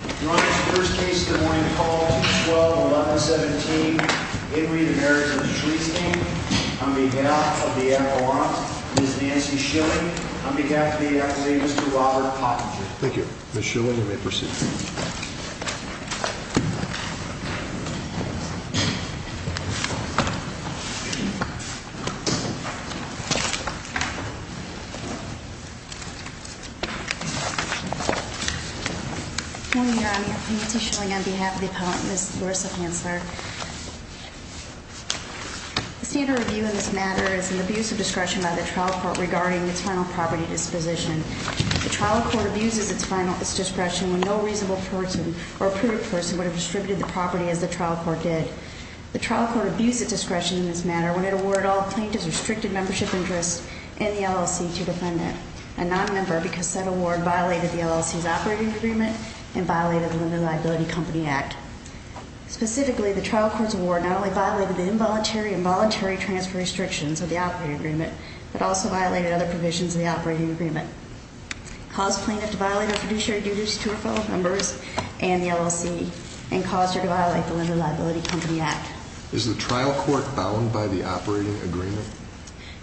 On this first case, Des Moines Call, 2-12-11-17, In Re to Marriage of Schlichting, on behalf of the Avalanche, Ms. Nancy Schilling, on behalf of the Avalanche, Mr. Robert Pottinger. Thank you. Ms. Schilling, you may proceed. Thank you, Your Honor. Nancy Schilling, on behalf of the Avalanche, Ms. Larissa Hansler. The standard review in this matter is an abuse of discretion by the trial court regarding its final property disposition. The trial court abuses its discretion when no reasonable person or approved person would have distributed the property as the trial court did. The trial court abused its discretion in this matter when it awarded all plaintiff's restricted membership interests in the LLC to the defendant, a nonmember, because said award violated the LLC's operating agreement and violated the Lender Liability Company Act. Specifically, the trial court's award not only violated the involuntary and voluntary transfer restrictions of the operating agreement, but also violated other provisions of the operating agreement. It caused plaintiff to violate her fiduciary duties to her fellow members and the LLC, and caused her to violate the Lender Liability Company Act. Is the trial court bound by the operating agreement?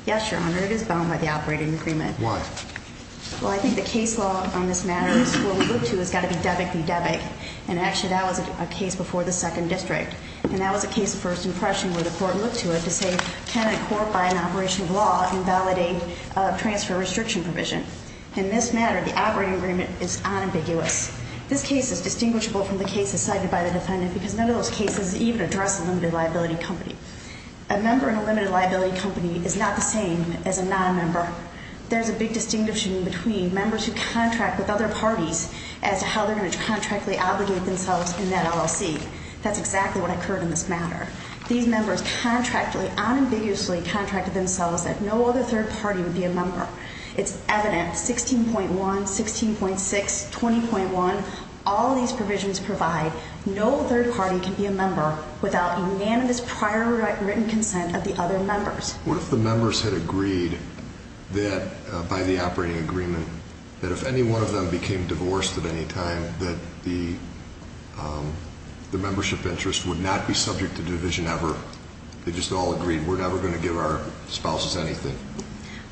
Yes, Your Honor, it is bound by the operating agreement. Why? Well, I think the case law on this matter is what we look to has got to be debit-de-debit. And actually, that was a case before the Second District. And that was a case of first impression where the court looked to it to say, can a court, by an operation of law, invalidate a transfer restriction provision? In this matter, the operating agreement is unambiguous. This case is distinguishable from the cases cited by the defendant because none of those cases even address a limited liability company. A member in a limited liability company is not the same as a nonmember. There's a big distinction between members who contract with other parties as to how they're going to contractually obligate themselves in that LLC. That's exactly what occurred in this matter. These members contractually, unambiguously contracted themselves that no other third party would be a member. It's evident, 16.1, 16.6, 20.1, all these provisions provide no third party can be a member without unanimous prior written consent of the other members. What if the members had agreed that, by the operating agreement, that if any one of them became divorced at any time, that the membership interest would not be subject to division ever? They just all agreed, we're never going to give our spouses anything.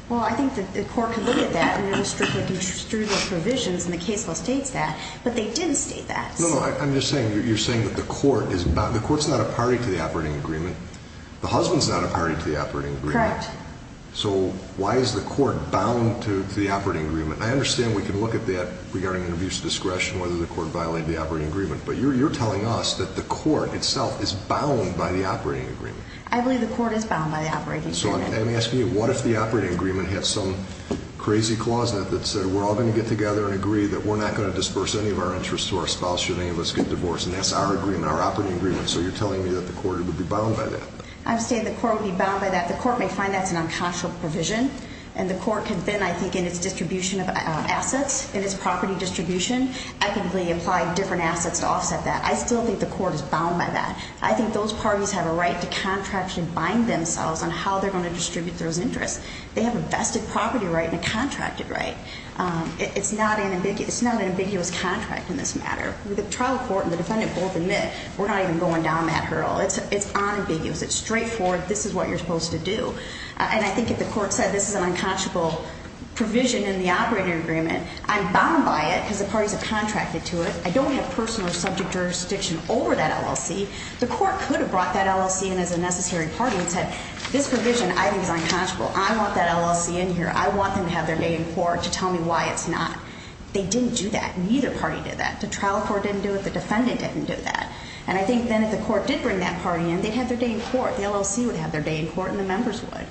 Well, I think that the court could look at that, and the district would construe the provisions, and the case will state that. But they didn't state that. No, no, I'm just saying, you're saying that the court is not, the court's not a party to the operating agreement. The husband's not a party to the operating agreement. Correct. So why is the court bound to the operating agreement? I understand we can look at that regarding an abuse of discretion, whether the court violated the operating agreement. But you're telling us that the court itself is bound by the operating agreement. I believe the court is bound by the operating agreement. So I'm asking you, what if the operating agreement had some crazy clause in it that said, we're all going to get together and agree that we're not going to disperse any of our interest to our spouse should any of us get divorced, and that's our agreement, our operating agreement. So you're telling me that the court would be bound by that. I'm saying the court would be bound by that. The court may find that's an unconscionable provision, and the court can then, I think, in its distribution of assets, in its property distribution, ethically apply different assets to offset that. I still think the court is bound by that. I think those parties have a right to contractually bind themselves on how they're going to distribute those interests. They have a vested property right and a contracted right. It's not an ambiguous contract in this matter. The trial court and the defendant both admit we're not even going down that hurdle. It's unambiguous. It's straightforward. This is what you're supposed to do. And I think if the court said this is an unconscionable provision in the operating agreement, I'm bound by it because the parties have contracted to it. I don't have personal or subject jurisdiction over that LLC. The court could have brought that LLC in as a necessary party and said this provision I think is unconscionable. I want that LLC in here. I want them to have their day in court to tell me why it's not. They didn't do that. Neither party did that. The trial court didn't do it. The defendant didn't do that. And I think then if the court did bring that party in, they'd have their day in court. The LLC would have their day in court and the members would.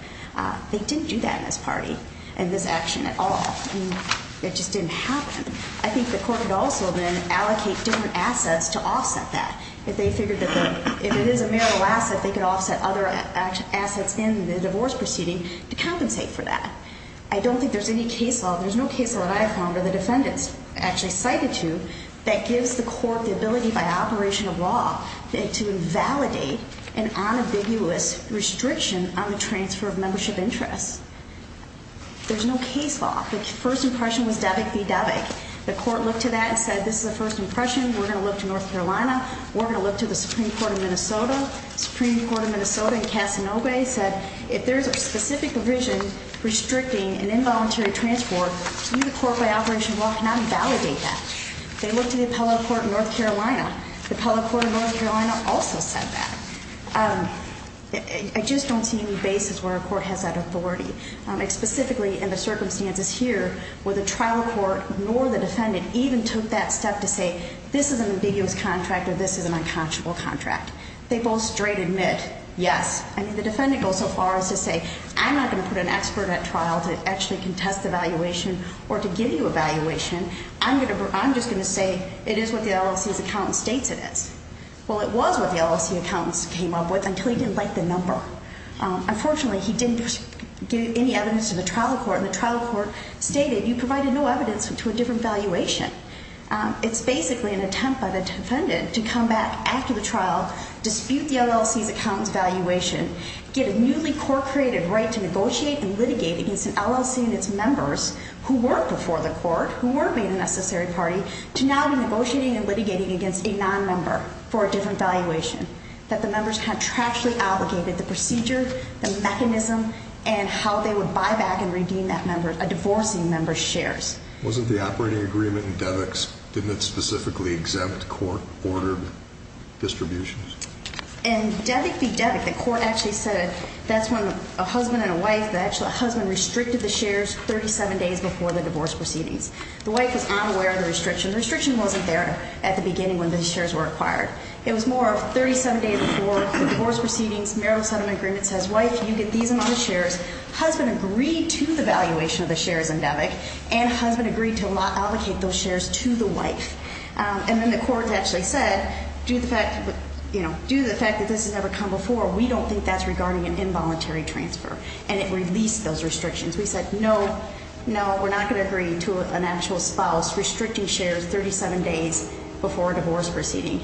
They didn't do that in this party, in this action at all. It just didn't happen. I think the court would also then allocate different assets to offset that. If they figured that if it is a marital asset, they could offset other assets in the divorce proceeding to compensate for that. I don't think there's any case law. What I have found are the defendants actually cited to that gives the court the ability by operation of law to validate an unambiguous restriction on the transfer of membership interests. There's no case law. The first impression was DAVIC v. DAVIC. The court looked to that and said this is the first impression. We're going to look to North Carolina. We're going to look to the Supreme Court of Minnesota. Supreme Court of Minnesota in Casanova said if there's a specific provision restricting an involuntary transport, to me the court by operation of law cannot validate that. They looked to the appellate court in North Carolina. The appellate court in North Carolina also said that. I just don't see any basis where a court has that authority. And specifically in the circumstances here where the trial court nor the defendant even took that step to say this is an ambiguous contract or this is an unconscionable contract. They both straight admit yes. I mean the defendant goes so far as to say I'm not going to put an expert at trial to actually contest the valuation or to give you a valuation. I'm just going to say it is what the LLC's accountant states it is. Well, it was what the LLC accountant came up with until he didn't like the number. Unfortunately, he didn't give any evidence to the trial court. The trial court stated you provided no evidence to a different valuation. It's basically an attempt by the defendant to come back after the trial, dispute the LLC's accountant's valuation, get a newly court-created right to negotiate and litigate against an LLC and its members who weren't before the court, who weren't made a necessary party, to now be negotiating and litigating against a nonmember for a different valuation. That the members contractually obligated the procedure, the mechanism, and how they would buy back and redeem that member, a divorcing member's shares. Wasn't the operating agreement in DEVICS, didn't it specifically exempt court-ordered distributions? In DEVIC v. DEVIC, the court actually said that's when a husband and a wife, actually a husband restricted the shares 37 days before the divorce proceedings. The wife is unaware of the restriction. The restriction wasn't there at the beginning when the shares were acquired. It was more of 37 days before the divorce proceedings, marital settlement agreement says, wife, you get these amount of shares. Husband agreed to the valuation of the shares in DEVIC, and husband agreed to allocate those shares to the wife. And then the court actually said, due to the fact that this has never come before, we don't think that's regarding an involuntary transfer. And it released those restrictions. We said, no, no, we're not going to agree to an actual spouse restricting shares 37 days before a divorce proceeding.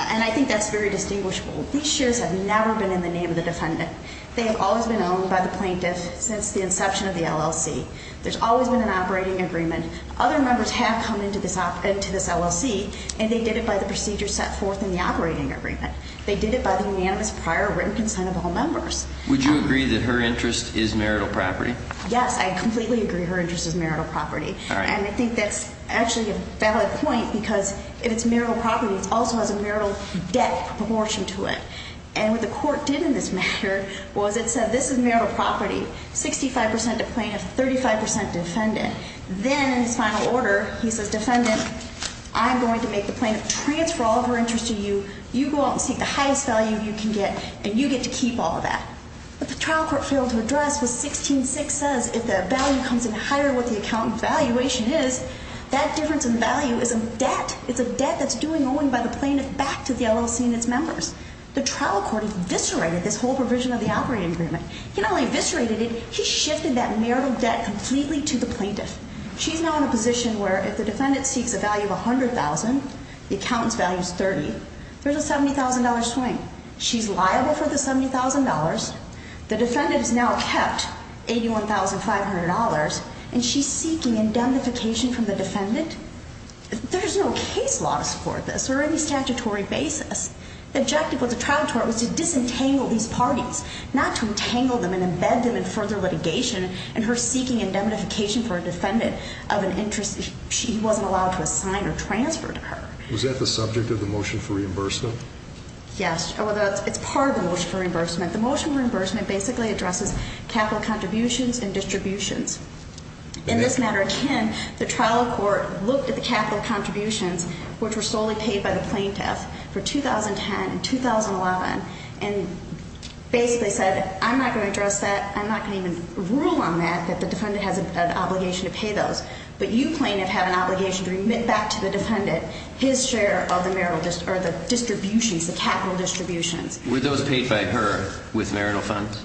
And I think that's very distinguishable. These shares have never been in the name of the defendant. They have always been owned by the plaintiff since the inception of the LLC. There's always been an operating agreement. Other members have come into this LLC, and they did it by the procedure set forth in the operating agreement. They did it by the unanimous prior written consent of all members. Would you agree that her interest is marital property? Yes, I completely agree her interest is marital property. And I think that's actually a valid point because if it's marital property, it also has a marital debt proportion to it. And what the court did in this matter was it said this is marital property, 65% to plaintiff, 35% defendant. Then in his final order, he says, defendant, I'm going to make the plaintiff transfer all of her interest to you. You go out and seek the highest value you can get, and you get to keep all of that. What the trial court failed to address was 16-6 says if the value comes in higher what the account valuation is, that difference in value is a debt. It's a debt that's due and owing by the plaintiff back to the LLC and its members. The trial court eviscerated this whole provision of the operating agreement. He not only eviscerated it, he shifted that marital debt completely to the plaintiff. She's now in a position where if the defendant seeks a value of $100,000, the accountant's value is $30,000, there's a $70,000 swing. She's liable for the $70,000. The defendant has now kept $81,500, and she's seeking indemnification from the defendant. There's no case law to support this or any statutory basis. The objective of the trial court was to disentangle these parties, not to entangle them and embed them in further litigation, and her seeking indemnification for a defendant of an interest he wasn't allowed to assign or transfer to her. Was that the subject of the motion for reimbursement? Yes. It's part of the motion for reimbursement. The motion for reimbursement basically addresses capital contributions and distributions. In this matter of 10, the trial court looked at the capital contributions, which were solely paid by the plaintiff, for 2010 and 2011, and basically said, I'm not going to address that, I'm not going to even rule on that, that the defendant has an obligation to pay those. But you plaintiff have an obligation to remit back to the defendant his share of the capital distributions. Were those paid by her with marital funds?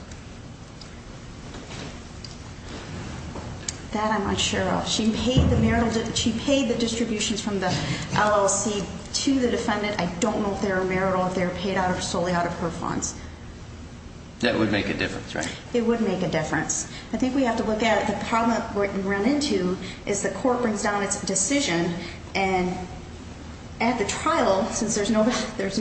That I'm not sure of. She paid the distributions from the LLC to the defendant. I don't know if they were marital, if they were paid solely out of her funds. That would make a difference, right? It would make a difference. I think we have to look at it. The problem that we run into is the court brings down its decision, and at the trial, since there's no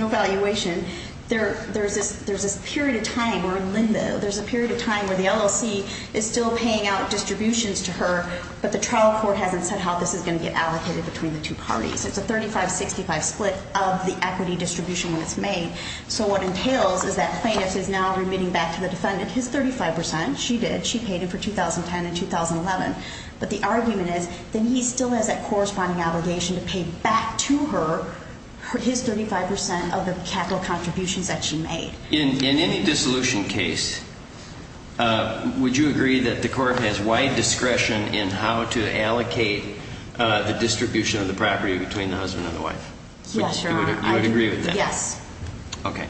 valuation, there's this period of time where Linda, there's a period of time where the LLC is still paying out distributions to her, but the trial court hasn't said how this is going to get allocated between the two parties. It's a 35-65 split of the equity distribution when it's made. So what entails is that plaintiff is now remitting back to the defendant his 35 percent. She did. She paid him for 2010 and 2011. But the argument is that he still has that corresponding obligation to pay back to her his 35 percent of the capital contributions that she made. In any dissolution case, would you agree that the court has wide discretion in how to allocate the distribution of the property between the husband and the wife? Yes, Your Honor. You would agree with that? Yes. Okay.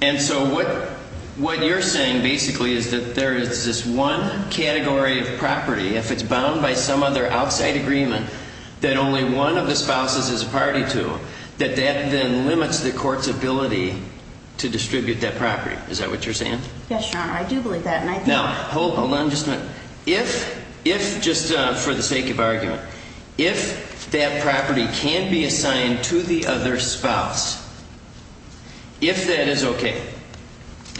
And so what you're saying basically is that there is this one category of property, if it's bound by some other outside agreement that only one of the spouses is a party to, that that then limits the court's ability to distribute that property. Is that what you're saying? Yes, Your Honor. I do believe that. Now, hold on just a minute. If, just for the sake of argument, if that property can be assigned to the other spouse, if that is okay,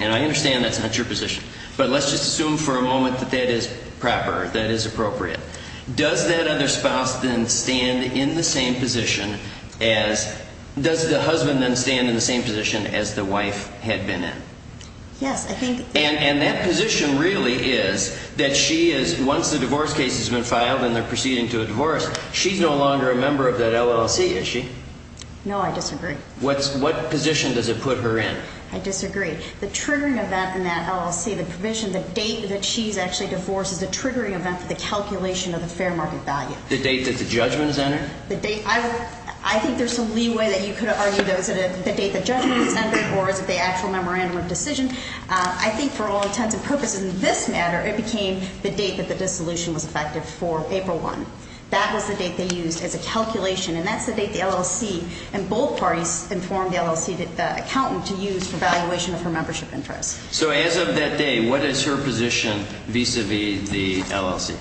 and I understand that's not your position, but let's just assume for a moment that that is proper, that is appropriate, does that other spouse then stand in the same position as, does the husband then stand in the same position as the wife had been in? Yes. And that position really is that she is, once the divorce case has been filed and they're proceeding to a divorce, she's no longer a member of that LLC, is she? No, I disagree. What position does it put her in? I disagree. The triggering event in that LLC, the provision, the date that she's actually divorced, is the triggering event for the calculation of the fair market value. The date that the judgment is entered? I think there's some leeway that you could argue that it was the date the judgment was entered or is it the actual memorandum of decision. I think for all intents and purposes in this matter, it became the date that the dissolution was effective for April 1. That was the date they used as a calculation, and that's the date the LLC and both parties informed the LLC accountant to use for evaluation of her membership interest. So as of that day, what is her position vis-a-vis the LLC?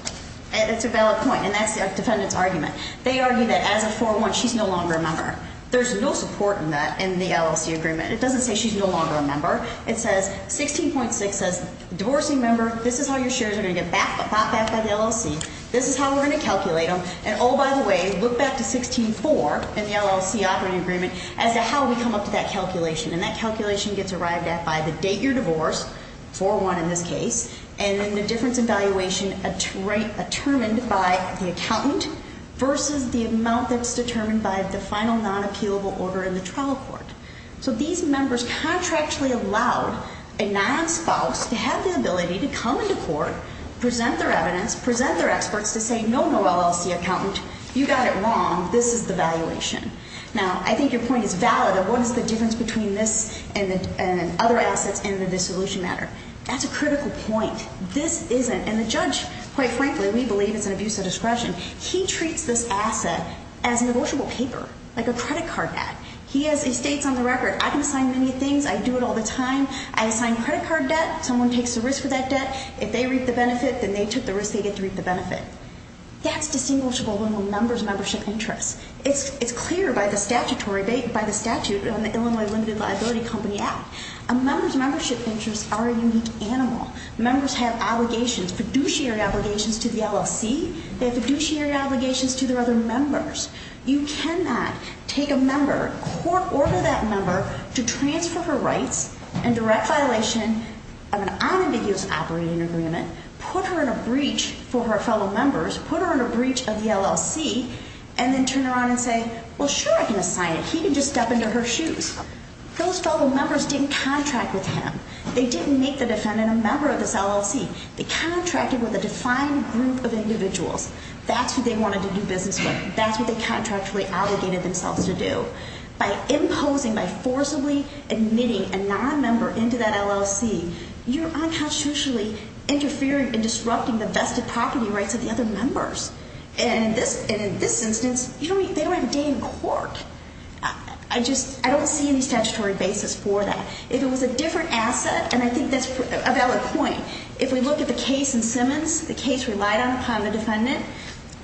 It's a valid point, and that's the defendant's argument. They argue that as of 4-1, she's no longer a member. There's no support in that in the LLC agreement. It doesn't say she's no longer a member. It says 16.6 says, divorcing member, this is how your shares are going to get bought back by the LLC. This is how we're going to calculate them. And oh, by the way, look back to 16-4 in the LLC operating agreement as to how we come up to that calculation, and that calculation gets arrived at by the date you're divorced, 4-1 in this case, and then the difference in valuation determined by the accountant versus the amount that's determined by the final non-appealable order in the trial court. So these members contractually allowed a non-spouse to have the ability to come into court, present their evidence, present their experts to say, no, no, LLC accountant, you got it wrong. This is the valuation. Now, I think your point is valid of what is the difference between this and other assets and the dissolution matter. That's a critical point. This isn't, and the judge, quite frankly, we believe it's an abuse of discretion. He treats this asset as a negotiable paper, like a credit card debt. He has, he states on the record, I can assign many things. I do it all the time. I assign credit card debt. Someone takes the risk for that debt. If they reap the benefit, then they took the risk. They get to reap the benefit. That's distinguishable from a member's membership interest. It's clear by the statutory, by the statute on the Illinois Limited Liability Company Act. A member's membership interests are a unique animal. Members have obligations, fiduciary obligations to the LLC. They have fiduciary obligations to their other members. You cannot take a member, court order that member to transfer her rights in direct violation of an unambiguous operating agreement, put her in a breach for her fellow members, put her in a breach of the LLC, and then turn around and say, well, sure, I can assign it. He can just step into her shoes. Those fellow members didn't contract with him. They didn't make the defendant a member of this LLC. They contracted with a defined group of individuals. That's who they wanted to do business with. That's what they contractually obligated themselves to do. By imposing, by forcibly admitting a nonmember into that LLC, you're unconstitutionally interfering and disrupting the vested property rights of the other members. And in this instance, they don't have a day in court. I just, I don't see any statutory basis for that. If it was a different asset, and I think that's a valid point, if we look at the case in Simmons, the case relied upon the defendant,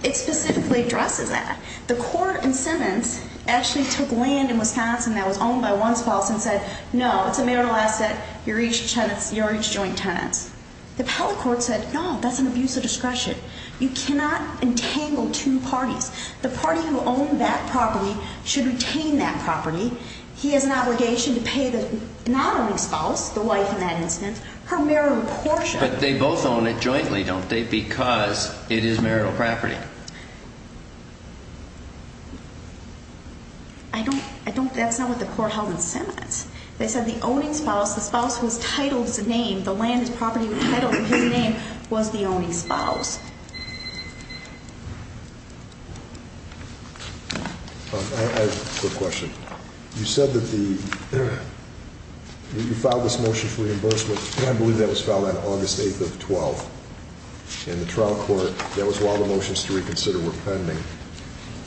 it specifically addresses that. The court in Simmons actually took land in Wisconsin that was owned by one spouse and said, no, it's a marital asset, you're each joint tenants. The appellate court said, no, that's an abuse of discretion. You cannot entangle two parties. The party who owned that property should retain that property. He has an obligation to pay the non-owning spouse, the wife in that instance, her marital portion. But they both own it jointly, don't they, because it is marital property? I don't, I don't, that's not what the court held in Simmons. They said the owning spouse, the spouse whose title is the name, the land is property entitled to his name, was the owning spouse. I have a quick question. You said that the, you filed this motion for reimbursement, and I believe that was filed on August 8th of 12th. And the trial court, that was while the motions to reconsider were pending.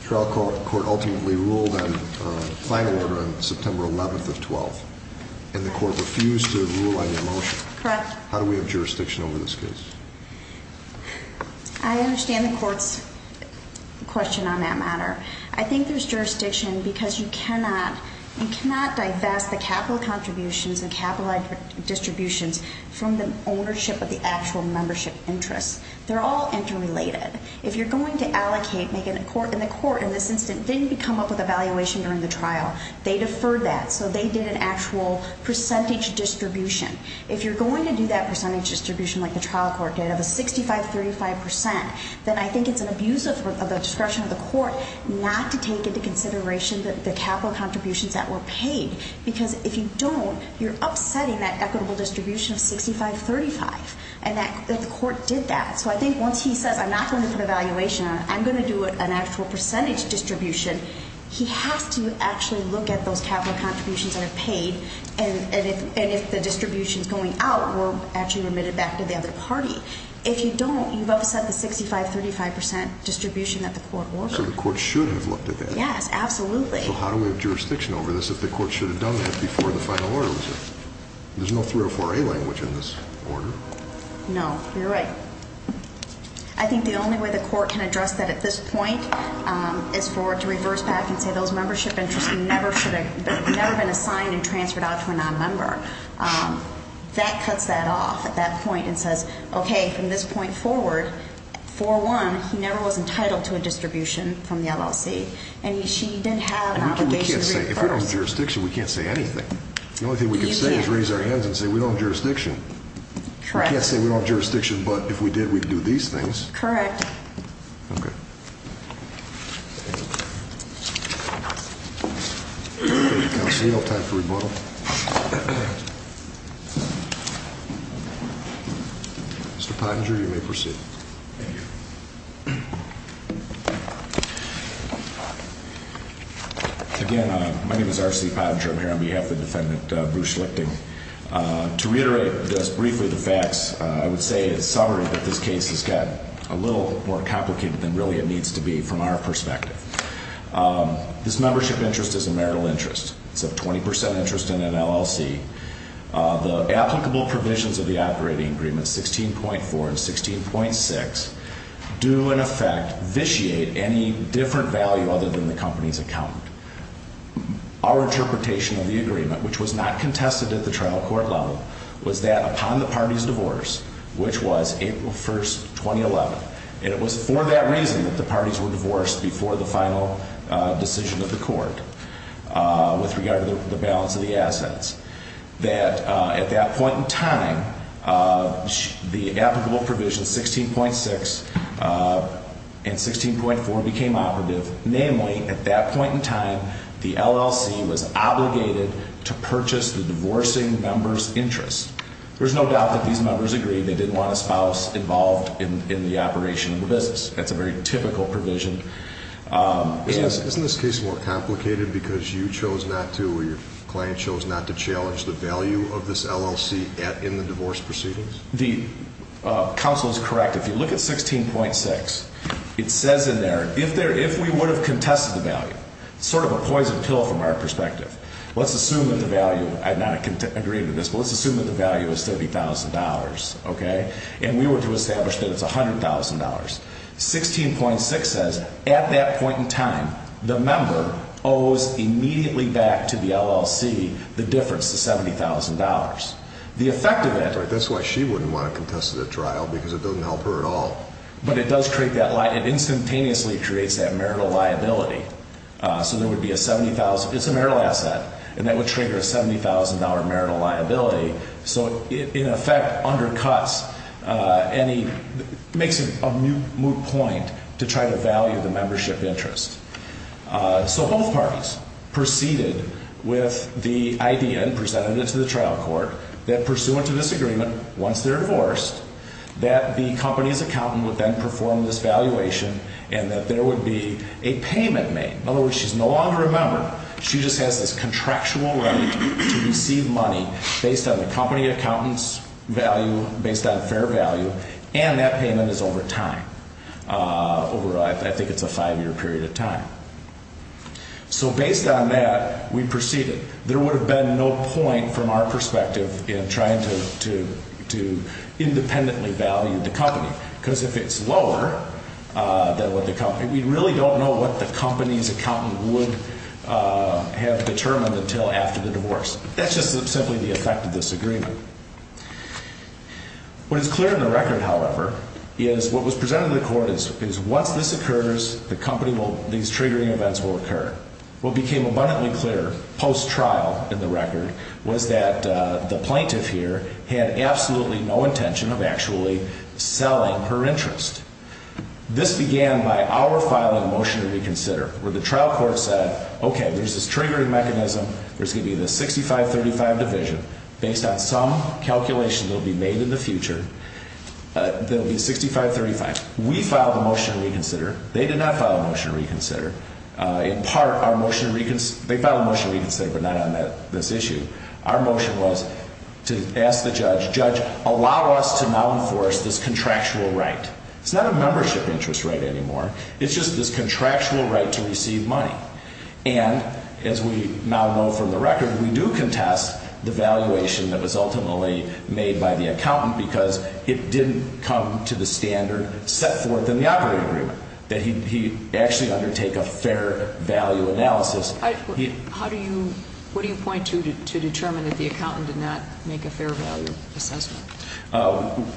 The trial court ultimately ruled on a final order on September 11th of 12th. And the court refused to rule on your motion. Correct. How do we have jurisdiction over this case? I understand the court's question on that matter. I think there's jurisdiction because you cannot, you cannot divest the capital contributions and capitalized distributions from the ownership of the actual membership interests. They're all interrelated. If you're going to allocate, make it a court, and the court in this instance didn't come up with a valuation during the trial. They deferred that, so they did an actual percentage distribution. If you're going to do that percentage distribution like the trial court did, of a 65-35%, then I think it's an abuse of the discretion of the court not to take into consideration the capital contributions that were paid. Because if you don't, you're upsetting that equitable distribution of 65-35. And the court did that. So I think once he says, I'm not going to put a valuation on it, I'm going to do an actual percentage distribution, he has to actually look at those capital contributions that are paid, and if the distribution's going out, we're actually remitted back to the other party. If you don't, you've upset the 65-35% distribution that the court ordered. So the court should have looked at that. Yes, absolutely. So how do we have jurisdiction over this if the court should have done that before the final order was there? There's no 304A language in this order. No, you're right. I think the only way the court can address that at this point is for it to reverse back and say those membership interests should have never been assigned and transferred out to a nonmember. That cuts that off at that point and says, okay, from this point forward, 4-1, he never was entitled to a distribution from the LLC, and she did have an obligation to reimburse him. If we don't have jurisdiction, we can't say anything. The only thing we can say is raise our hands and say we don't have jurisdiction. Correct. We can't say we don't have jurisdiction, but if we did, we'd do these things. Correct. Okay. Thank you, counsel. I'll time for rebuttal. Mr. Pottinger, you may proceed. Thank you. Again, my name is R.C. Pottinger. I'm here on behalf of the defendant, Bruce Schlichting. To reiterate just briefly the facts, I would say it's sovereign that this case has got a little more complicated than really it needs to be from our perspective. This membership interest is a marital interest. It's a 20% interest in an LLC. The applicable provisions of the operating agreement, 16.4 and 16.6, do in effect vitiate any different value other than the company's accountant. Our interpretation of the agreement, which was not contested at the trial court level, was that upon the party's divorce, which was April 1, 2011, and it was for that reason that the parties were divorced before the final decision of the court, with regard to the balance of the assets, that at that point in time, the applicable provisions 16.6 and 16.4 became operative. Namely, at that point in time, the LLC was obligated to purchase the divorcing member's interest. There's no doubt that these members agreed they didn't want a spouse involved in the operation of the business. That's a very typical provision. Isn't this case more complicated because you chose not to, or your client chose not to challenge the value of this LLC in the divorce proceedings? The counsel is correct. If you look at 16.6, it says in there, if we would have contested the value, sort of a poison pill from our perspective, let's assume that the value, I'm not agreeing with this, but let's assume that the value is $30,000, okay? And we were to establish that it's $100,000. 16.6 says at that point in time, the member owes immediately back to the LLC the difference to $70,000. The effect of it. That's why she wouldn't want to contest it at trial because it doesn't help her at all. But it does create that, it instantaneously creates that marital liability. So there would be a $70,000, it's a marital asset, and that would trigger a $70,000 marital liability. So it, in effect, undercuts any, makes a moot point to try to value the membership interest. So both parties proceeded with the idea and presented it to the trial court, that pursuant to this agreement, once they're divorced, that the company's accountant would then perform this valuation and that there would be a payment made. In other words, she's no longer a member. She just has this contractual right to receive money based on the company accountant's value, based on fair value, and that payment is over time. Over, I think it's a five-year period of time. So based on that, we proceeded. There would have been no point, from our perspective, in trying to independently value the company. Because if it's lower than what the company, we really don't know what the company's accountant would have determined until after the divorce. That's just simply the effect of this agreement. What is clear in the record, however, is what was presented to the court is once this occurs, the company will, these triggering events will occur. What became abundantly clear, post-trial in the record, was that the plaintiff here had absolutely no intention of actually selling her interest. This began by our filing a motion to reconsider, where the trial court said, okay, there's this triggering mechanism. There's going to be the 6535 division. Based on some calculations that will be made in the future, there will be 6535. We filed a motion to reconsider. They did not file a motion to reconsider. In part, they filed a motion to reconsider, but not on this issue. Our motion was to ask the judge, judge, allow us to now enforce this contractual right. It's not a membership interest right anymore. It's just this contractual right to receive money. And as we now know from the record, we do contest the valuation that was ultimately made by the accountant because it didn't come to the standard set forth in the operating agreement, that he actually undertake a fair value analysis. What do you point to to determine that the accountant did not make a fair value assessment?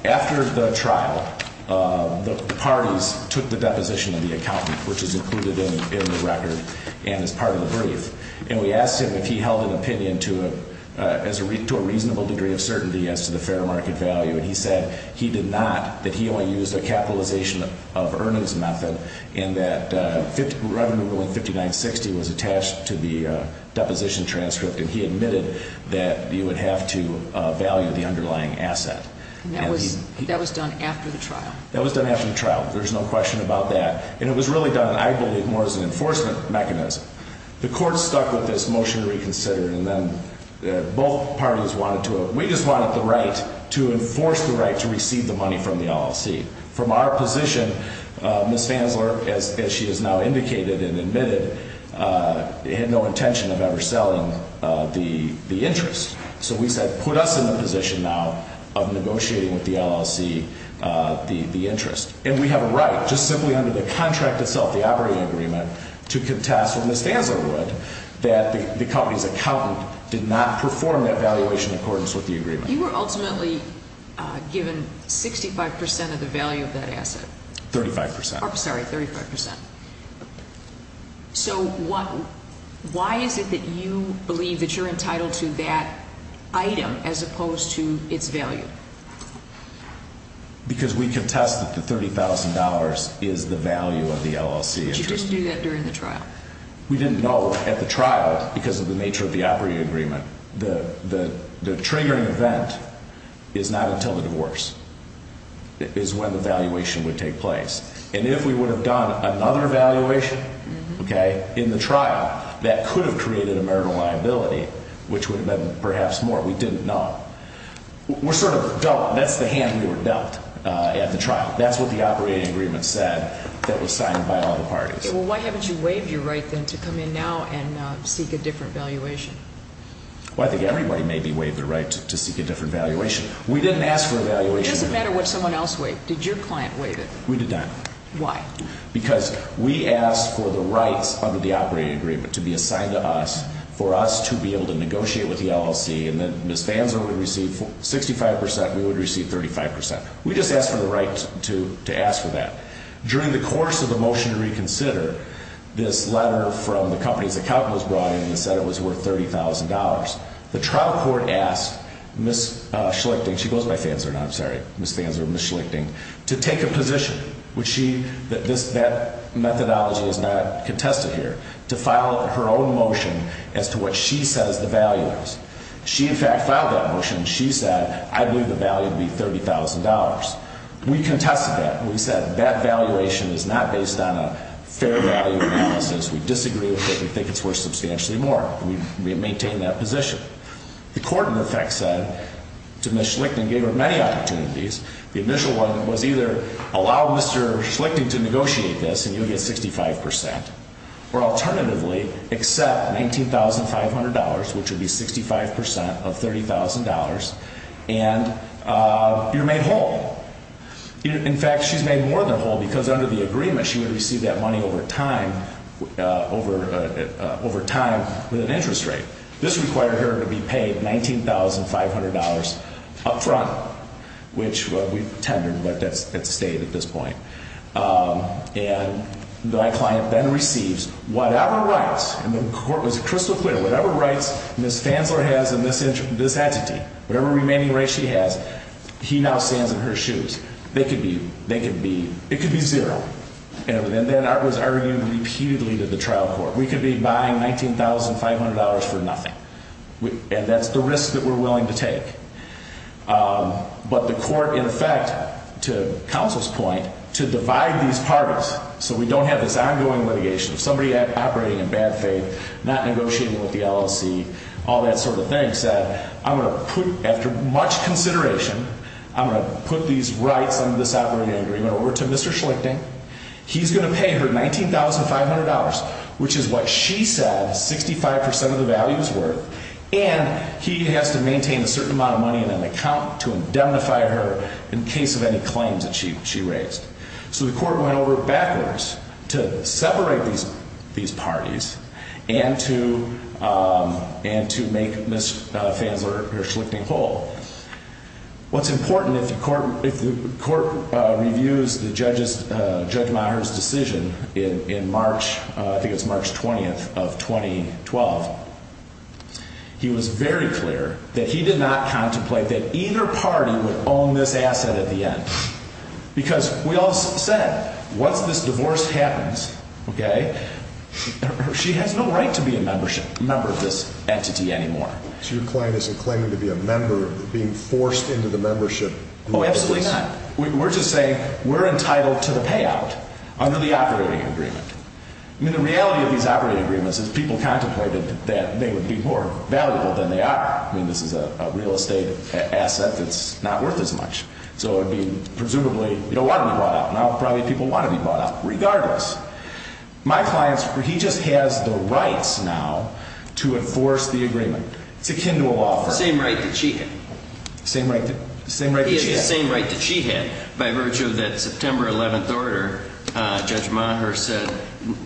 After the trial, the parties took the deposition of the accountant, which is included in the record and is part of the brief. And we asked him if he held an opinion to a reasonable degree of certainty as to the fair market value. And he said he did not, that he only used a capitalization of earnings method, and that revenue going 5960 was attached to the deposition transcript. And he admitted that you would have to value the underlying asset. And that was done after the trial? That was done after the trial. There's no question about that. And it was really done, I believe, more as an enforcement mechanism. The court stuck with this motion to reconsider. And then both parties wanted to, we just wanted the right to enforce the right to receive the money from the LLC. From our position, Ms. Fansler, as she has now indicated and admitted, had no intention of ever selling the interest. So we said put us in the position now of negotiating with the LLC the interest. And we have a right, just simply under the contract itself, the operating agreement, to contest what Ms. Fansler would, that the company's accountant did not perform that valuation in accordance with the agreement. You were ultimately given 65% of the value of that asset. 35%. Sorry, 35%. So why is it that you believe that you're entitled to that item as opposed to its value? Because we contest that the $30,000 is the value of the LLC interest. But you didn't do that during the trial. We didn't know at the trial because of the nature of the operating agreement. The triggering event is not until the divorce is when the valuation would take place. And if we would have done another valuation in the trial, that could have created a marital liability, which would have been perhaps more. We didn't know. We're sort of dealt, that's the hand we were dealt at the trial. That's what the operating agreement said that was signed by all the parties. Well, why haven't you waived your right then to come in now and seek a different valuation? Well, I think everybody maybe waived their right to seek a different valuation. We didn't ask for a valuation. It doesn't matter what someone else waived. Did your client waive it? We did not. Why? Because we asked for the rights under the operating agreement to be assigned to us, for us to be able to negotiate with the LLC, and that Ms. Fansler would receive 65%, we would receive 35%. We just asked for the right to ask for that. During the course of the motion to reconsider, this letter from the company's accountant was brought in and said it was worth $30,000. The trial court asked Ms. Schlichting, she goes by Fansler now, I'm sorry, Ms. Fansler, Ms. Schlichting, to take a position, which she, that methodology is not contested here, to file her own motion as to what she says the value is. She, in fact, filed that motion. She said, I believe the value would be $30,000. We contested that. We said that valuation is not based on a fair value analysis. We disagree with it. We think it's worth substantially more. We maintain that position. The court, in effect, said to Ms. Schlichting, gave her many opportunities. The initial one was either allow Mr. Schlichting to negotiate this and you'll get 65%, or alternatively, accept $19,500, which would be 65% of $30,000, and you're made whole. In fact, she's made more than whole because under the agreement, she would receive that money over time with an interest rate. This required her to be paid $19,500 up front, which we tendered, but that's stayed at this point. And my client then receives whatever rights, and the court was crystal clear, whatever rights Ms. Fansler has in this entity, whatever remaining rights she has, he now stands in her shoes. They could be, they could be, it could be zero. And then that was argued repeatedly to the trial court. We could be buying $19,500 for nothing, and that's the risk that we're willing to take. But the court, in effect, to counsel's point, to divide these parties so we don't have this ongoing litigation. If somebody operating in bad faith, not negotiating with the LLC, all that sort of thing, said, I'm going to put, after much consideration, I'm going to put these rights under this operating agreement over to Mr. Schlichting. He's going to pay her $19,500, which is what she said 65% of the value is worth, and he has to maintain a certain amount of money in an account to indemnify her in case of any claims that she raised. So the court went over it backwards to separate these parties and to make Ms. Fansler or Schlichting whole. What's important, if the court reviews Judge Meyer's decision in March, I think it was March 20th of 2012, he was very clear that he did not contemplate that either party would own this asset at the end. Because we all said, once this divorce happens, okay, she has no right to be a member of this entity anymore. So your client isn't claiming to be a member, being forced into the membership? Oh, absolutely not. We're just saying we're entitled to the payout under the operating agreement. I mean, the reality of these operating agreements is people contemplated that they would be more valuable than they are. I mean, this is a real estate asset that's not worth as much. So it would be, presumably, you don't want to be bought out. Now, probably people want to be bought out, regardless. My client, he just has the rights now to enforce the agreement. It's akin to a law firm. The same right that she had. The same right that she had. He has the same right that she had, by virtue of that September 11th order. Judge Meyer said,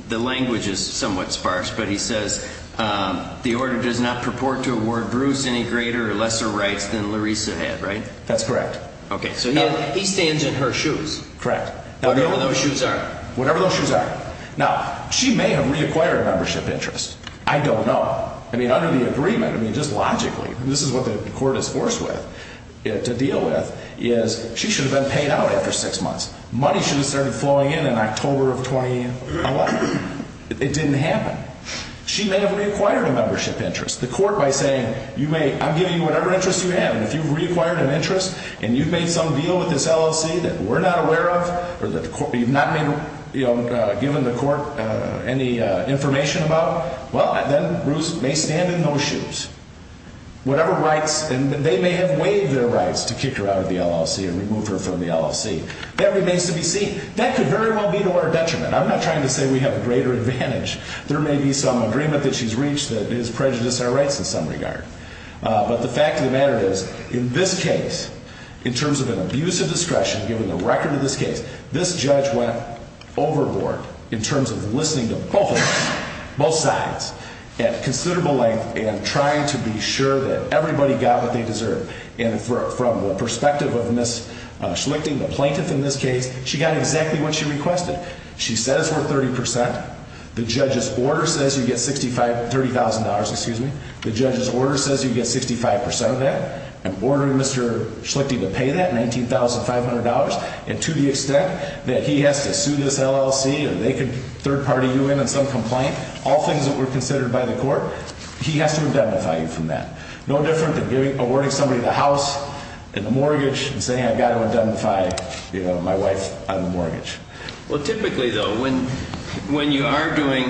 the language is somewhat sparse, but he says, the order does not purport to award Bruce any greater or lesser rights than Larissa had, right? That's correct. Okay, so he stands in her shoes. Correct. Whatever those shoes are. Whatever those shoes are. Now, she may have reacquired a membership interest. I don't know. I mean, under the agreement, I mean, just logically, this is what the court is forced with, to deal with, is she should have been paid out after six months. Money should have started flowing in in October of 2011. It didn't happen. She may have reacquired a membership interest. The court, by saying, you may, I'm giving you whatever interest you have, and if you've reacquired an interest and you've made some deal with this LLC that we're not aware of, or you've not given the court any information about, well, then Bruce may stand in those shoes. Whatever rights, and they may have waived their rights to kick her out of the LLC and remove her from the LLC. That remains to be seen. That could very well be to our detriment. I'm not trying to say we have a greater advantage. There may be some agreement that she's reached that is prejudiced our rights in some regard. But the fact of the matter is, in this case, in terms of an abuse of discretion, given the record of this case, this judge went overboard in terms of listening to both sides at considerable length and trying to be sure that everybody got what they deserved. And from the perspective of Ms. Schlichting, the plaintiff in this case, she got exactly what she requested. She said it's worth 30%. The judge's order says you get $30,000. The judge's order says you get 65% of that. I'm ordering Mr. Schlichting to pay that, $19,500. And to the extent that he has to sue this LLC or they could third-party you in on some complaint, all things that were considered by the court, he has to indemnify you from that. No different than awarding somebody the house and the mortgage and saying, I've got to indemnify my wife on the mortgage. Well, typically, though, when you are doing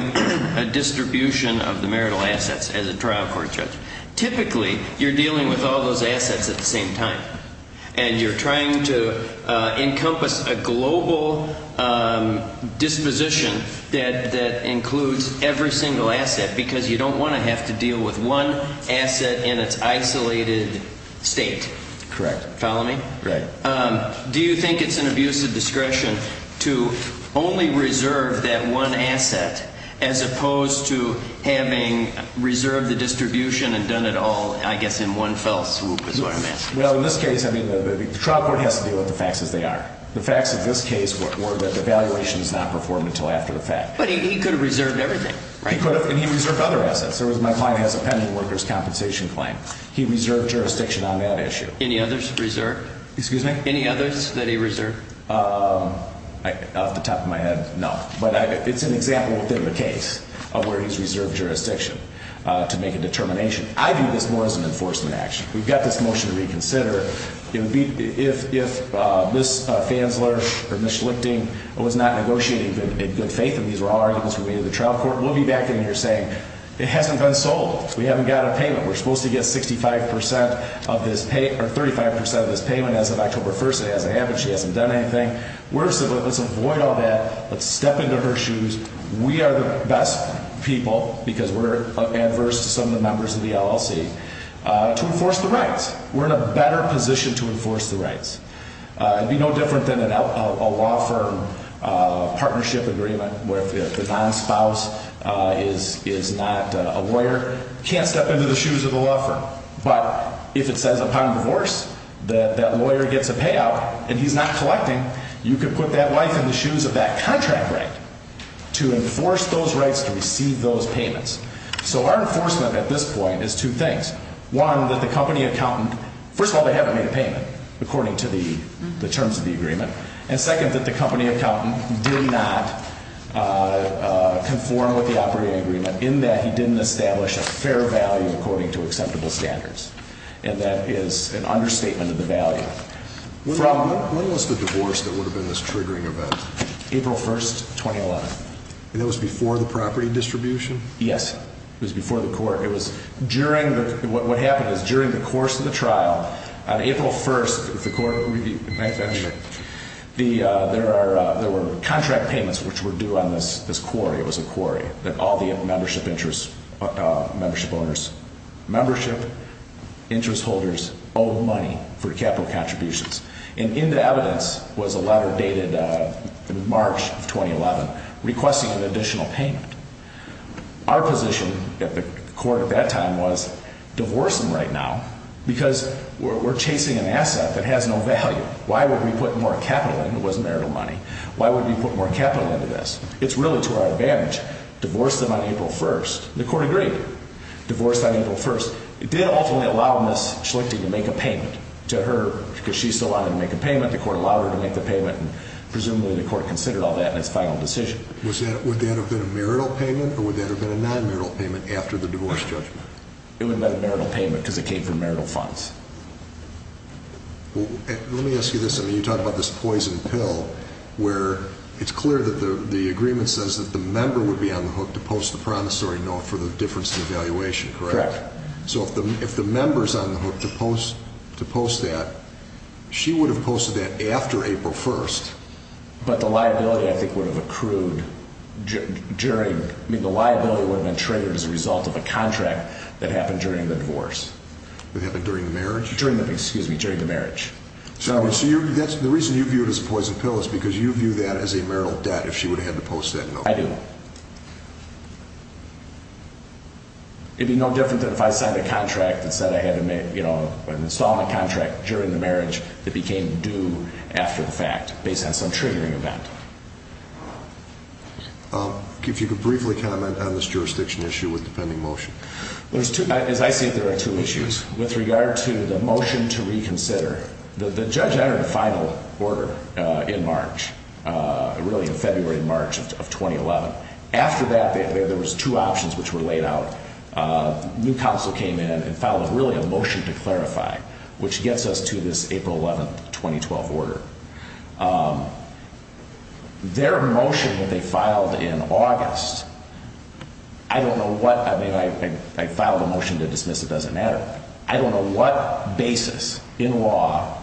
a distribution of the marital assets as a trial court judge, typically you're dealing with all those assets at the same time, and you're trying to encompass a global disposition that includes every single asset because you don't want to have to deal with one asset in its isolated state. Correct. Follow me? Right. Do you think it's an abuse of discretion to only reserve that one asset as opposed to having reserved the distribution and done it all, I guess, in one fell swoop is what I'm asking. Well, in this case, I mean, the trial court has to deal with the facts as they are. The facts of this case were that the valuation is not performed until after the fact. But he could have reserved everything, right? He could have, and he reserved other assets. There was my client has a pending workers' compensation claim. He reserved jurisdiction on that issue. Any others reserved? Excuse me? Any others that he reserved? Off the top of my head, no. But it's an example within the case of where he's reserved jurisdiction to make a determination. I view this more as an enforcement action. We've got this motion to reconsider. If Ms. Fanzler or Ms. Schlichting was not negotiating in good faith, and these were all arguments we made at the trial court, we'll be back in here saying, it hasn't been sold. We haven't got a payment. We're supposed to get 65% of this pay or 35% of this payment as of October 1st. It hasn't happened. She hasn't done anything. We're saying, let's avoid all that. Let's step into her shoes. We are the best people, because we're adverse to some of the members of the LLC, to enforce the rights. We're in a better position to enforce the rights. It would be no different than a law firm partnership agreement where if the non-spouse is not a lawyer, can't step into the shoes of the law firm. But if it says upon divorce that that lawyer gets a payout and he's not collecting, you could put that wife in the shoes of that contract right to enforce those rights to receive those payments. So our enforcement at this point is two things. One, that the company accountant, first of all, they haven't made a payment according to the terms of the agreement. And second, that the company accountant did not conform with the operating agreement in that he didn't establish a fair value according to acceptable standards. And that is an understatement of the value. When was the divorce that would have been this triggering event? April 1st, 2011. And that was before the property distribution? Yes. It was before the court. What happened is during the course of the trial, on April 1st, there were contract payments which were due on this quarry. It was a quarry. It was a quarry that all the membership interest holders owe money for capital contributions. And in the evidence was a letter dated March of 2011 requesting an additional payment. Our position at the court at that time was divorce them right now because we're chasing an asset that has no value. Why would we put more capital in? It wasn't marital money. Why would we put more capital into this? It's really to our advantage. Divorce them on April 1st. The court agreed. Divorce on April 1st. It did ultimately allow Ms. Schlichting to make a payment to her because she still wanted to make a payment. The court allowed her to make the payment and presumably the court considered all that in its final decision. Would that have been a marital payment or would that have been a non-marital payment after the divorce judgment? It would have been a marital payment because it came from marital funds. Well, let me ask you this. I mean, you talk about this poison pill where it's clear that the agreement says that the member would be on the hook to post the promissory note for the difference in evaluation, correct? Correct. So if the member's on the hook to post that, she would have posted that after April 1st. But the liability, I think, would have accrued during – I mean, the liability would have been triggered as a result of a contract that happened during the divorce. That happened during the marriage? During the – excuse me – during the marriage. So the reason you view it as a poison pill is because you view that as a marital debt if she would have had to post that note. I do. It would be no different than if I signed a contract that said I had to – you know, an installment contract during the marriage that became due after the fact based on some triggering event. If you could briefly comment on this jurisdiction issue with the pending motion. As I see it, there are two issues with regard to the motion to reconsider. The judge entered a final order in March, really in February and March of 2011. After that, there was two options which were laid out. New counsel came in and filed really a motion to clarify, which gets us to this April 11th, 2012 order. Their motion that they filed in August, I don't know what – I mean, I filed a motion to dismiss, it doesn't matter. I don't know what basis in law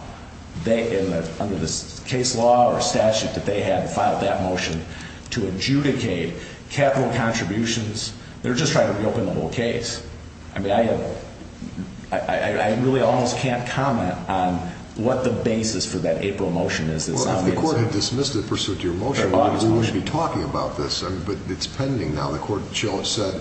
they – under this case law or statute that they had filed that motion to adjudicate capital contributions. They're just trying to reopen the whole case. I mean, I really almost can't comment on what the basis for that April motion is. Well, if the court had dismissed the pursuit to your motion, we wouldn't be talking about this, but it's pending now. The court said,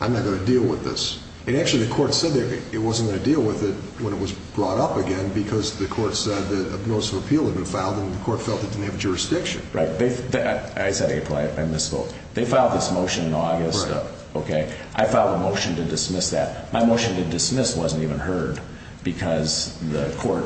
I'm not going to deal with this. And actually, the court said it wasn't going to deal with it when it was brought up again because the court said that a notice of appeal had been filed and the court felt it didn't have jurisdiction. Right. I said April. I misspoke. They filed this motion in August. Right. I filed a motion to dismiss that. My motion to dismiss wasn't even heard because the court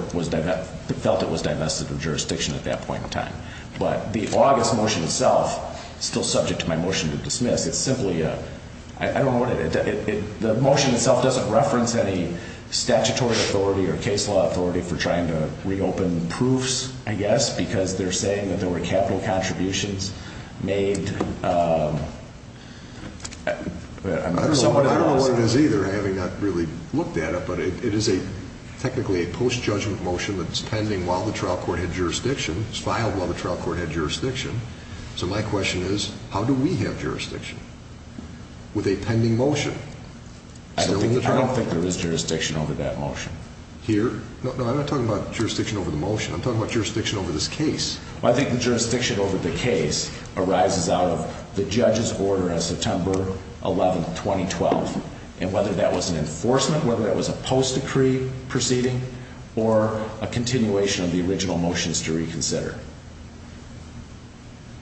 felt it was divested of jurisdiction at that point in time. But the August motion itself is still subject to my motion to dismiss. It's simply a – I don't know what it – the motion itself doesn't reference any statutory authority or case law authority for trying to reopen proofs, I guess, because they're saying that there were capital contributions made. I don't know what it is either, having not really looked at it. But it is technically a post-judgment motion that's pending while the trial court had jurisdiction. It was filed while the trial court had jurisdiction. So my question is, how do we have jurisdiction with a pending motion? I don't think there is jurisdiction over that motion. Here? No, I'm not talking about jurisdiction over the motion. I'm talking about jurisdiction over this case. Well, I think the jurisdiction over the case arises out of the judge's order on September 11, 2012, and whether that was an enforcement, whether that was a post-decree proceeding, or a continuation of the original motions to reconsider.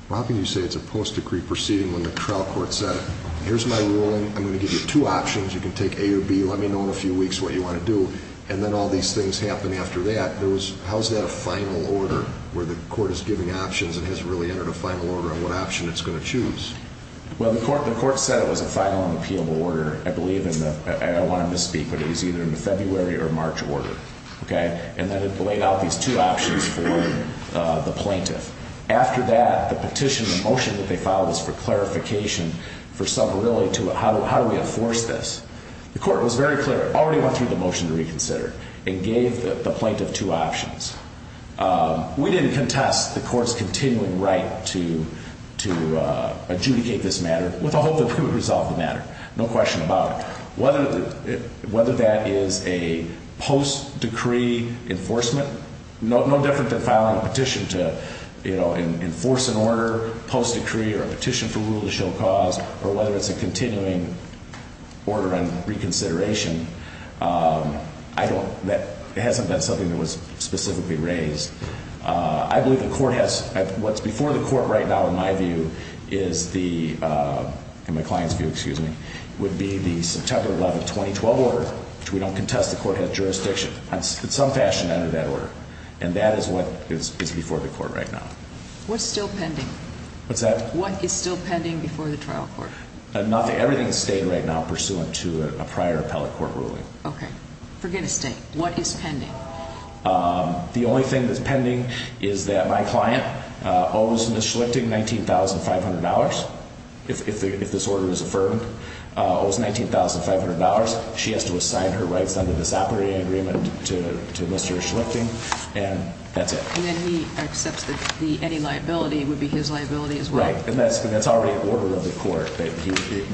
Well, how can you say it's a post-decree proceeding when the trial court said, here's my ruling, I'm going to give you two options, you can take A or B, let me know in a few weeks what you want to do, and then all these things happen after that. How is that a final order, where the court is giving options and has really entered a final order on what option it's going to choose? Well, the court said it was a final and appealable order, I believe. I don't want to misspeak, but it was either in the February or March order. And then it laid out these two options for the plaintiff. After that, the petition, the motion that they filed was for clarification, for some really, how do we enforce this? The court was very clear. It already went through the motion to reconsider and gave the plaintiff two options. We didn't contest the court's continuing right to adjudicate this matter with the hope that we would resolve the matter. No question about it. Whether that is a post-decree enforcement, no different than filing a petition to enforce an order post-decree or a petition for rule to show cause, or whether it's a continuing order on reconsideration, that hasn't been something that was specifically raised. I believe the court has, what's before the court right now in my view is the, in my client's view, excuse me, would be the September 11, 2012 order, which we don't contest. The court has jurisdiction in some fashion under that order. And that is what is before the court right now. What's still pending? What's that? What is still pending before the trial court? Nothing. Everything is staying right now pursuant to a prior appellate court ruling. Okay. Forget a state. What is pending? The only thing that's pending is that my client owes Ms. Schlichting $19,500. If this order is affirmed, owes $19,500. She has to assign her rights under this operating agreement to Mr. Schlichting, and that's it. And then he accepts that any liability would be his liability as well. Right. And that's already an order of the court that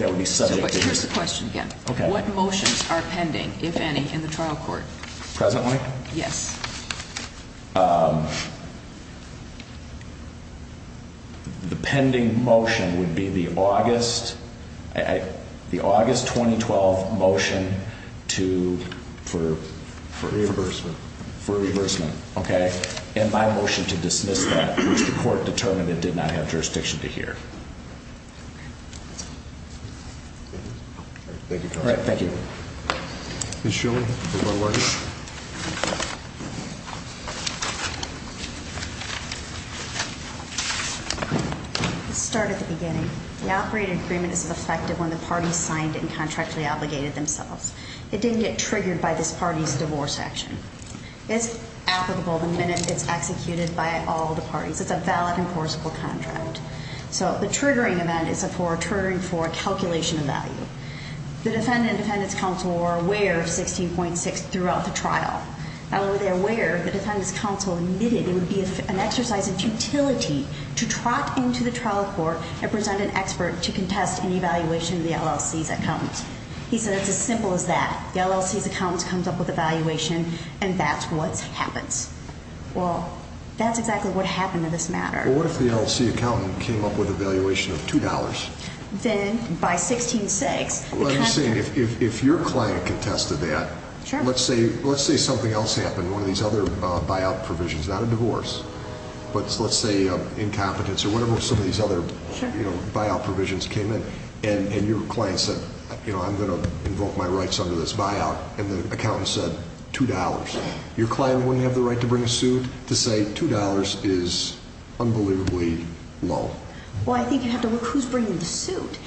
would be subject to his. Here's the question again. Okay. What motions are pending, if any, in the trial court? Presently? Yes. The pending motion would be the August 2012 motion to, for? For reimbursement. For reimbursement. Okay. And my motion to dismiss that, which the court determined it did not have jurisdiction to hear. Thank you, counsel. All right. Thank you. Ms. Schlichting. Is that working? Let's start at the beginning. The operating agreement is effective when the parties signed it and contractually obligated themselves. It didn't get triggered by this party's divorce action. It's applicable the minute it's executed by all the parties. It's a valid, enforceable contract. So the triggering event is for a calculation of value. The defendant and defendant's counsel were aware of 16.6 throughout the trial. Not only were they aware, the defendant's counsel admitted it would be an exercise of futility to trot into the trial court and present an expert to contest an evaluation of the LLC's account. He said it's as simple as that. The LLC's accountant comes up with a valuation, and that's what happens. Well, that's exactly what happened in this matter. Well, what if the LLC accountant came up with a valuation of $2? Then, by 16.6, the contractor- Well, I'm saying if your client contested that- Sure. Let's say something else happened. One of these other buyout provisions, not a divorce, but let's say incompetence or whatever some of these other buyout provisions came in, and your client said, you know, I'm going to invoke my rights under this buyout, and the accountant said $2. Your client wouldn't have the right to bring a suit to say $2 is unbelievably low? Well, I think you'd have to look who's bringing the suit.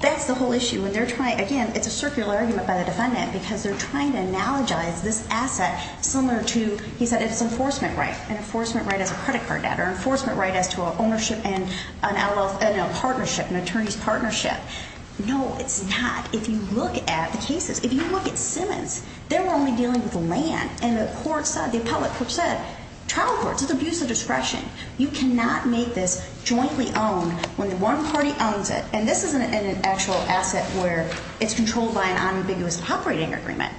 That's the whole issue. Again, it's a circular argument by the defendant because they're trying to analogize this asset similar to, he said, its enforcement right, an enforcement right as a credit card debtor, enforcement right as to an ownership and an LLC partnership, an attorney's partnership. No, it's not. If you look at the cases, if you look at Simmons, they were only dealing with land, and the court said, the appellate court said, trial courts, it's abuse of discretion. You cannot make this jointly owned when one party owns it, and this isn't an actual asset where it's controlled by an unambiguous operating agreement.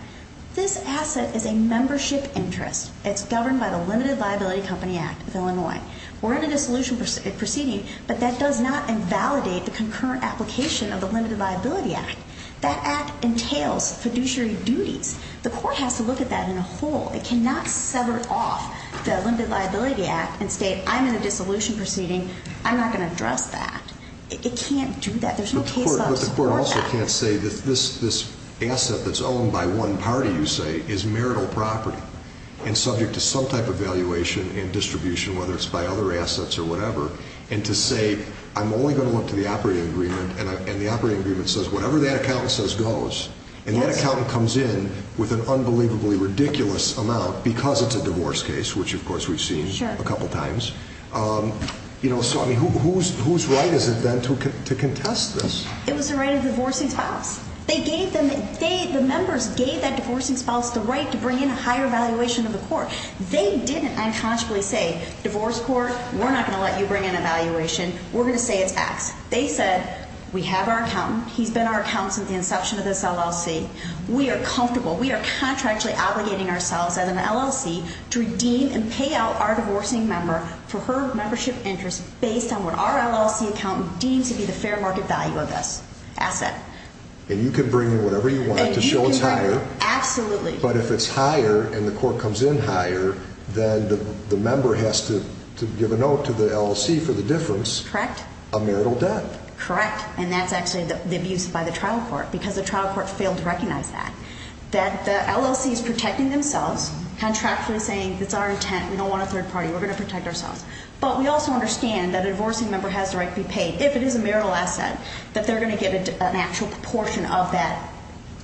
This asset is a membership interest. It's governed by the Limited Liability Company Act of Illinois. We're in a dissolution proceeding, but that does not invalidate the concurrent application of the Limited Liability Act. That act entails fiduciary duties. The court has to look at that in a whole. It cannot sever off the Limited Liability Act and state, I'm in a dissolution proceeding. I'm not going to address that. It can't do that. There's no case law to support that. The Supreme Court also can't say that this asset that's owned by one party, you say, is marital property and subject to some type of valuation and distribution, whether it's by other assets or whatever, and to say, I'm only going to look to the operating agreement, and the operating agreement says whatever that accountant says goes, and that accountant comes in with an unbelievably ridiculous amount because it's a divorce case, which, of course, we've seen a couple times. Sure. So, I mean, whose right is it then to contest this? It was the right of the divorcing spouse. They gave them, the members gave that divorcing spouse the right to bring in a higher valuation of the court. They didn't unconsciously say, divorce court, we're not going to let you bring in a valuation. We're going to say it's X. They said, we have our accountant. He's been our accountant since the inception of this LLC. We are comfortable. We are contractually obligating ourselves as an LLC to redeem and pay out our divorcing member for her membership interest based on what our LLC accountant deems to be the fair market value of this asset. And you can bring in whatever you want to show it's higher. Absolutely. But if it's higher and the court comes in higher, then the member has to give a note to the LLC for the difference. Correct. A marital debt. Correct. And that's actually the abuse by the trial court, because the trial court failed to recognize that. That the LLC is protecting themselves, contractually saying, it's our intent. We don't want a third party. We're going to protect ourselves. But we also understand that a divorcing member has the right to be paid, if it is a marital asset, that they're going to get an actual proportion of that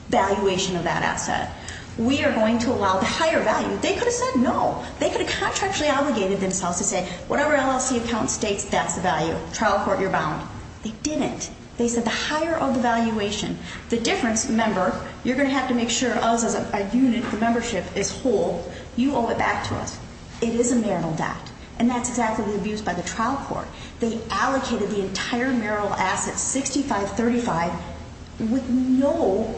valuation of that asset. We are going to allow the higher value. They could have said no. They could have contractually obligated themselves to say, whatever LLC accountant states, that's the value. Trial court, you're bound. They didn't. They said the higher of the valuation. The difference, remember, you're going to have to make sure us as a unit, the membership, is whole. You owe it back to us. It is a marital debt. And that's exactly the abuse by the trial court. They allocated the entire marital asset, 6535, with no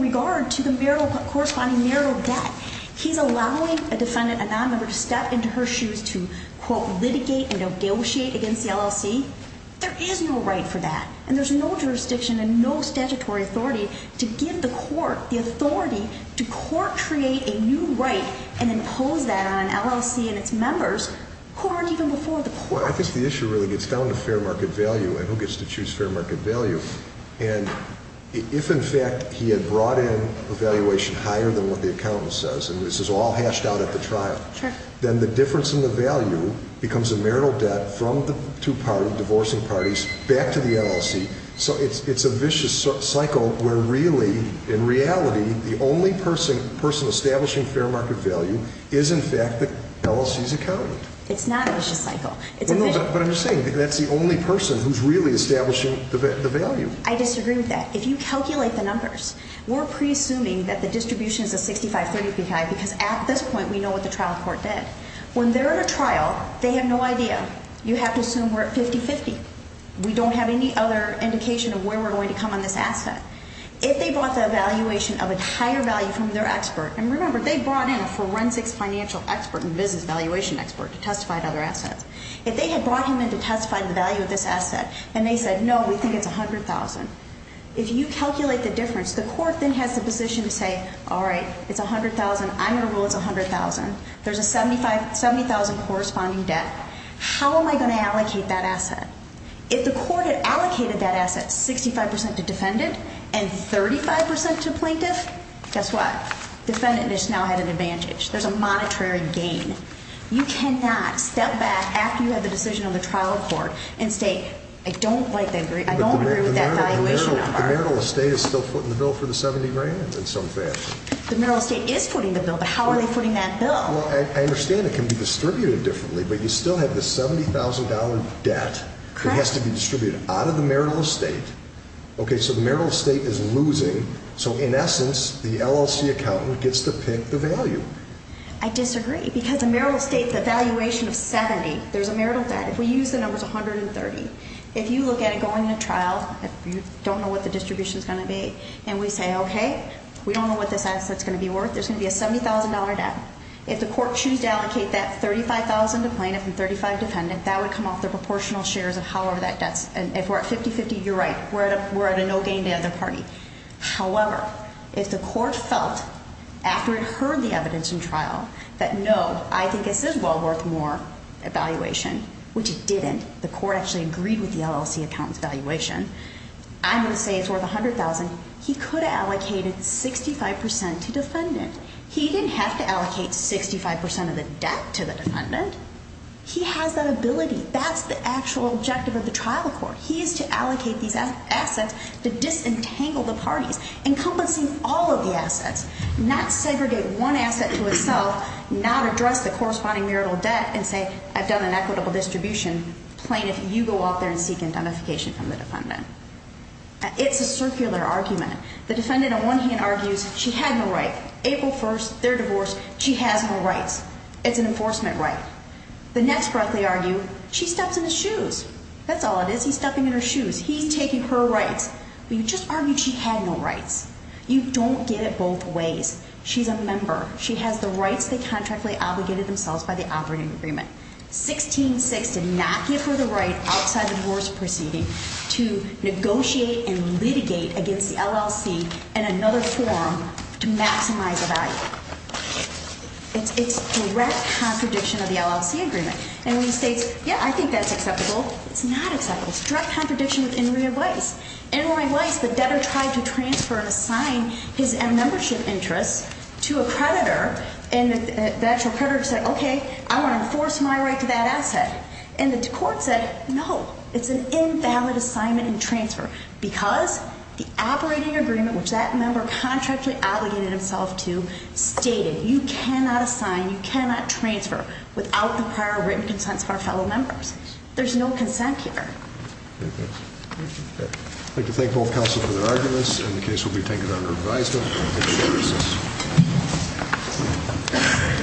regard to the marital corresponding marital debt. He's allowing a defendant, a nonmember, to step into her shoes to, quote, litigate and negotiate against the LLC. There is no right for that. And there's no jurisdiction and no statutory authority to give the court the authority to court create a new right and impose that on an LLC and its members who aren't even before the court. Well, I guess the issue really gets down to fair market value and who gets to choose fair market value. And if, in fact, he had brought in a valuation higher than what the accountant says, and this is all hashed out at the trial, then the difference in the value becomes a marital debt from the two parties, divorcing parties, back to the LLC. So it's a vicious cycle where really, in reality, the only person establishing fair market value is, in fact, the LLC's accountant. It's not a vicious cycle. But I'm just saying that's the only person who's really establishing the value. I disagree with that. If you calculate the numbers, we're pre-assuming that the distribution is a 6535 because at this point we know what the trial court did. When they're at a trial, they have no idea. You have to assume we're at 50-50. We don't have any other indication of where we're going to come on this asset. If they brought the valuation of a higher value from their expert, and remember, they brought in a forensics financial expert and business valuation expert to testify to other assets. If they had brought him in to testify to the value of this asset and they said, no, we think it's $100,000, if you calculate the difference, the court then has the position to say, all right, it's $100,000. I'm going to rule it's $100,000. There's a $70,000 corresponding debt. How am I going to allocate that asset? If the court had allocated that asset 65% to defendant and 35% to plaintiff, guess what? Defendant has now had an advantage. There's a monetary gain. You cannot step back after you have a decision on the trial court and say, I don't agree with that valuation. The marital estate is still footing the bill for the $70,000 in some fashion. The marital estate is footing the bill, but how are they footing that bill? Well, I understand it can be distributed differently, but you still have the $70,000 debt that has to be distributed out of the marital estate. Okay, so the marital estate is losing. So, in essence, the LLC accountant gets to pick the value. I disagree because the marital estate, the valuation of 70, there's a marital debt. If we use the numbers 130, if you look at it going to trial, you don't know what the distribution is going to be, and we say, okay, we don't know what this asset is going to be worth, there's going to be a $70,000 debt. If the court chooses to allocate that $35,000 to plaintiff and $35,000 to defendant, that would come off the proportional shares of however that debt is. And if we're at 50-50, you're right, we're at a no gain to the other party. However, if the court felt, after it heard the evidence in trial, that no, I think this is well worth more evaluation, which it didn't. The court actually agreed with the LLC accountant's valuation. I'm going to say it's worth $100,000. He could have allocated 65% to defendant. He didn't have to allocate 65% of the debt to the defendant. He has that ability. That's the actual objective of the trial court. He is to allocate these assets to disentangle the parties, encompassing all of the assets, not segregate one asset to itself, not address the corresponding marital debt and say, I've done an equitable distribution. Plaintiff, you go out there and seek identification from the defendant. It's a circular argument. The defendant on one hand argues she had no right. April 1st, their divorce, she has no rights. It's an enforcement right. The next breath, they argue, she steps in his shoes. That's all it is. He's stepping in her shoes. He's taking her rights. You just argued she had no rights. You don't get it both ways. She's a member. She has the rights they contractually obligated themselves by the operating agreement. 16-6 did not give her the right outside the divorce proceeding to negotiate and litigate against the LLC in another forum to maximize the value. It's direct contradiction of the LLC agreement. And when he states, yeah, I think that's acceptable, it's not acceptable. It's direct contradiction with Inouye Weiss. Inouye Weiss, the debtor tried to transfer and assign his membership interests to a creditor, and the actual creditor said, okay, I want to enforce my right to that asset. And the court said, no, it's an invalid assignment and transfer because the operating agreement, which that member contractually obligated himself to, stated you cannot assign, you cannot transfer without the prior written consent of our fellow members. There's no consent here. Thank you. I'd like to thank both counsel for their arguments, and the case will be taken under advisement. Thank you for your assistance.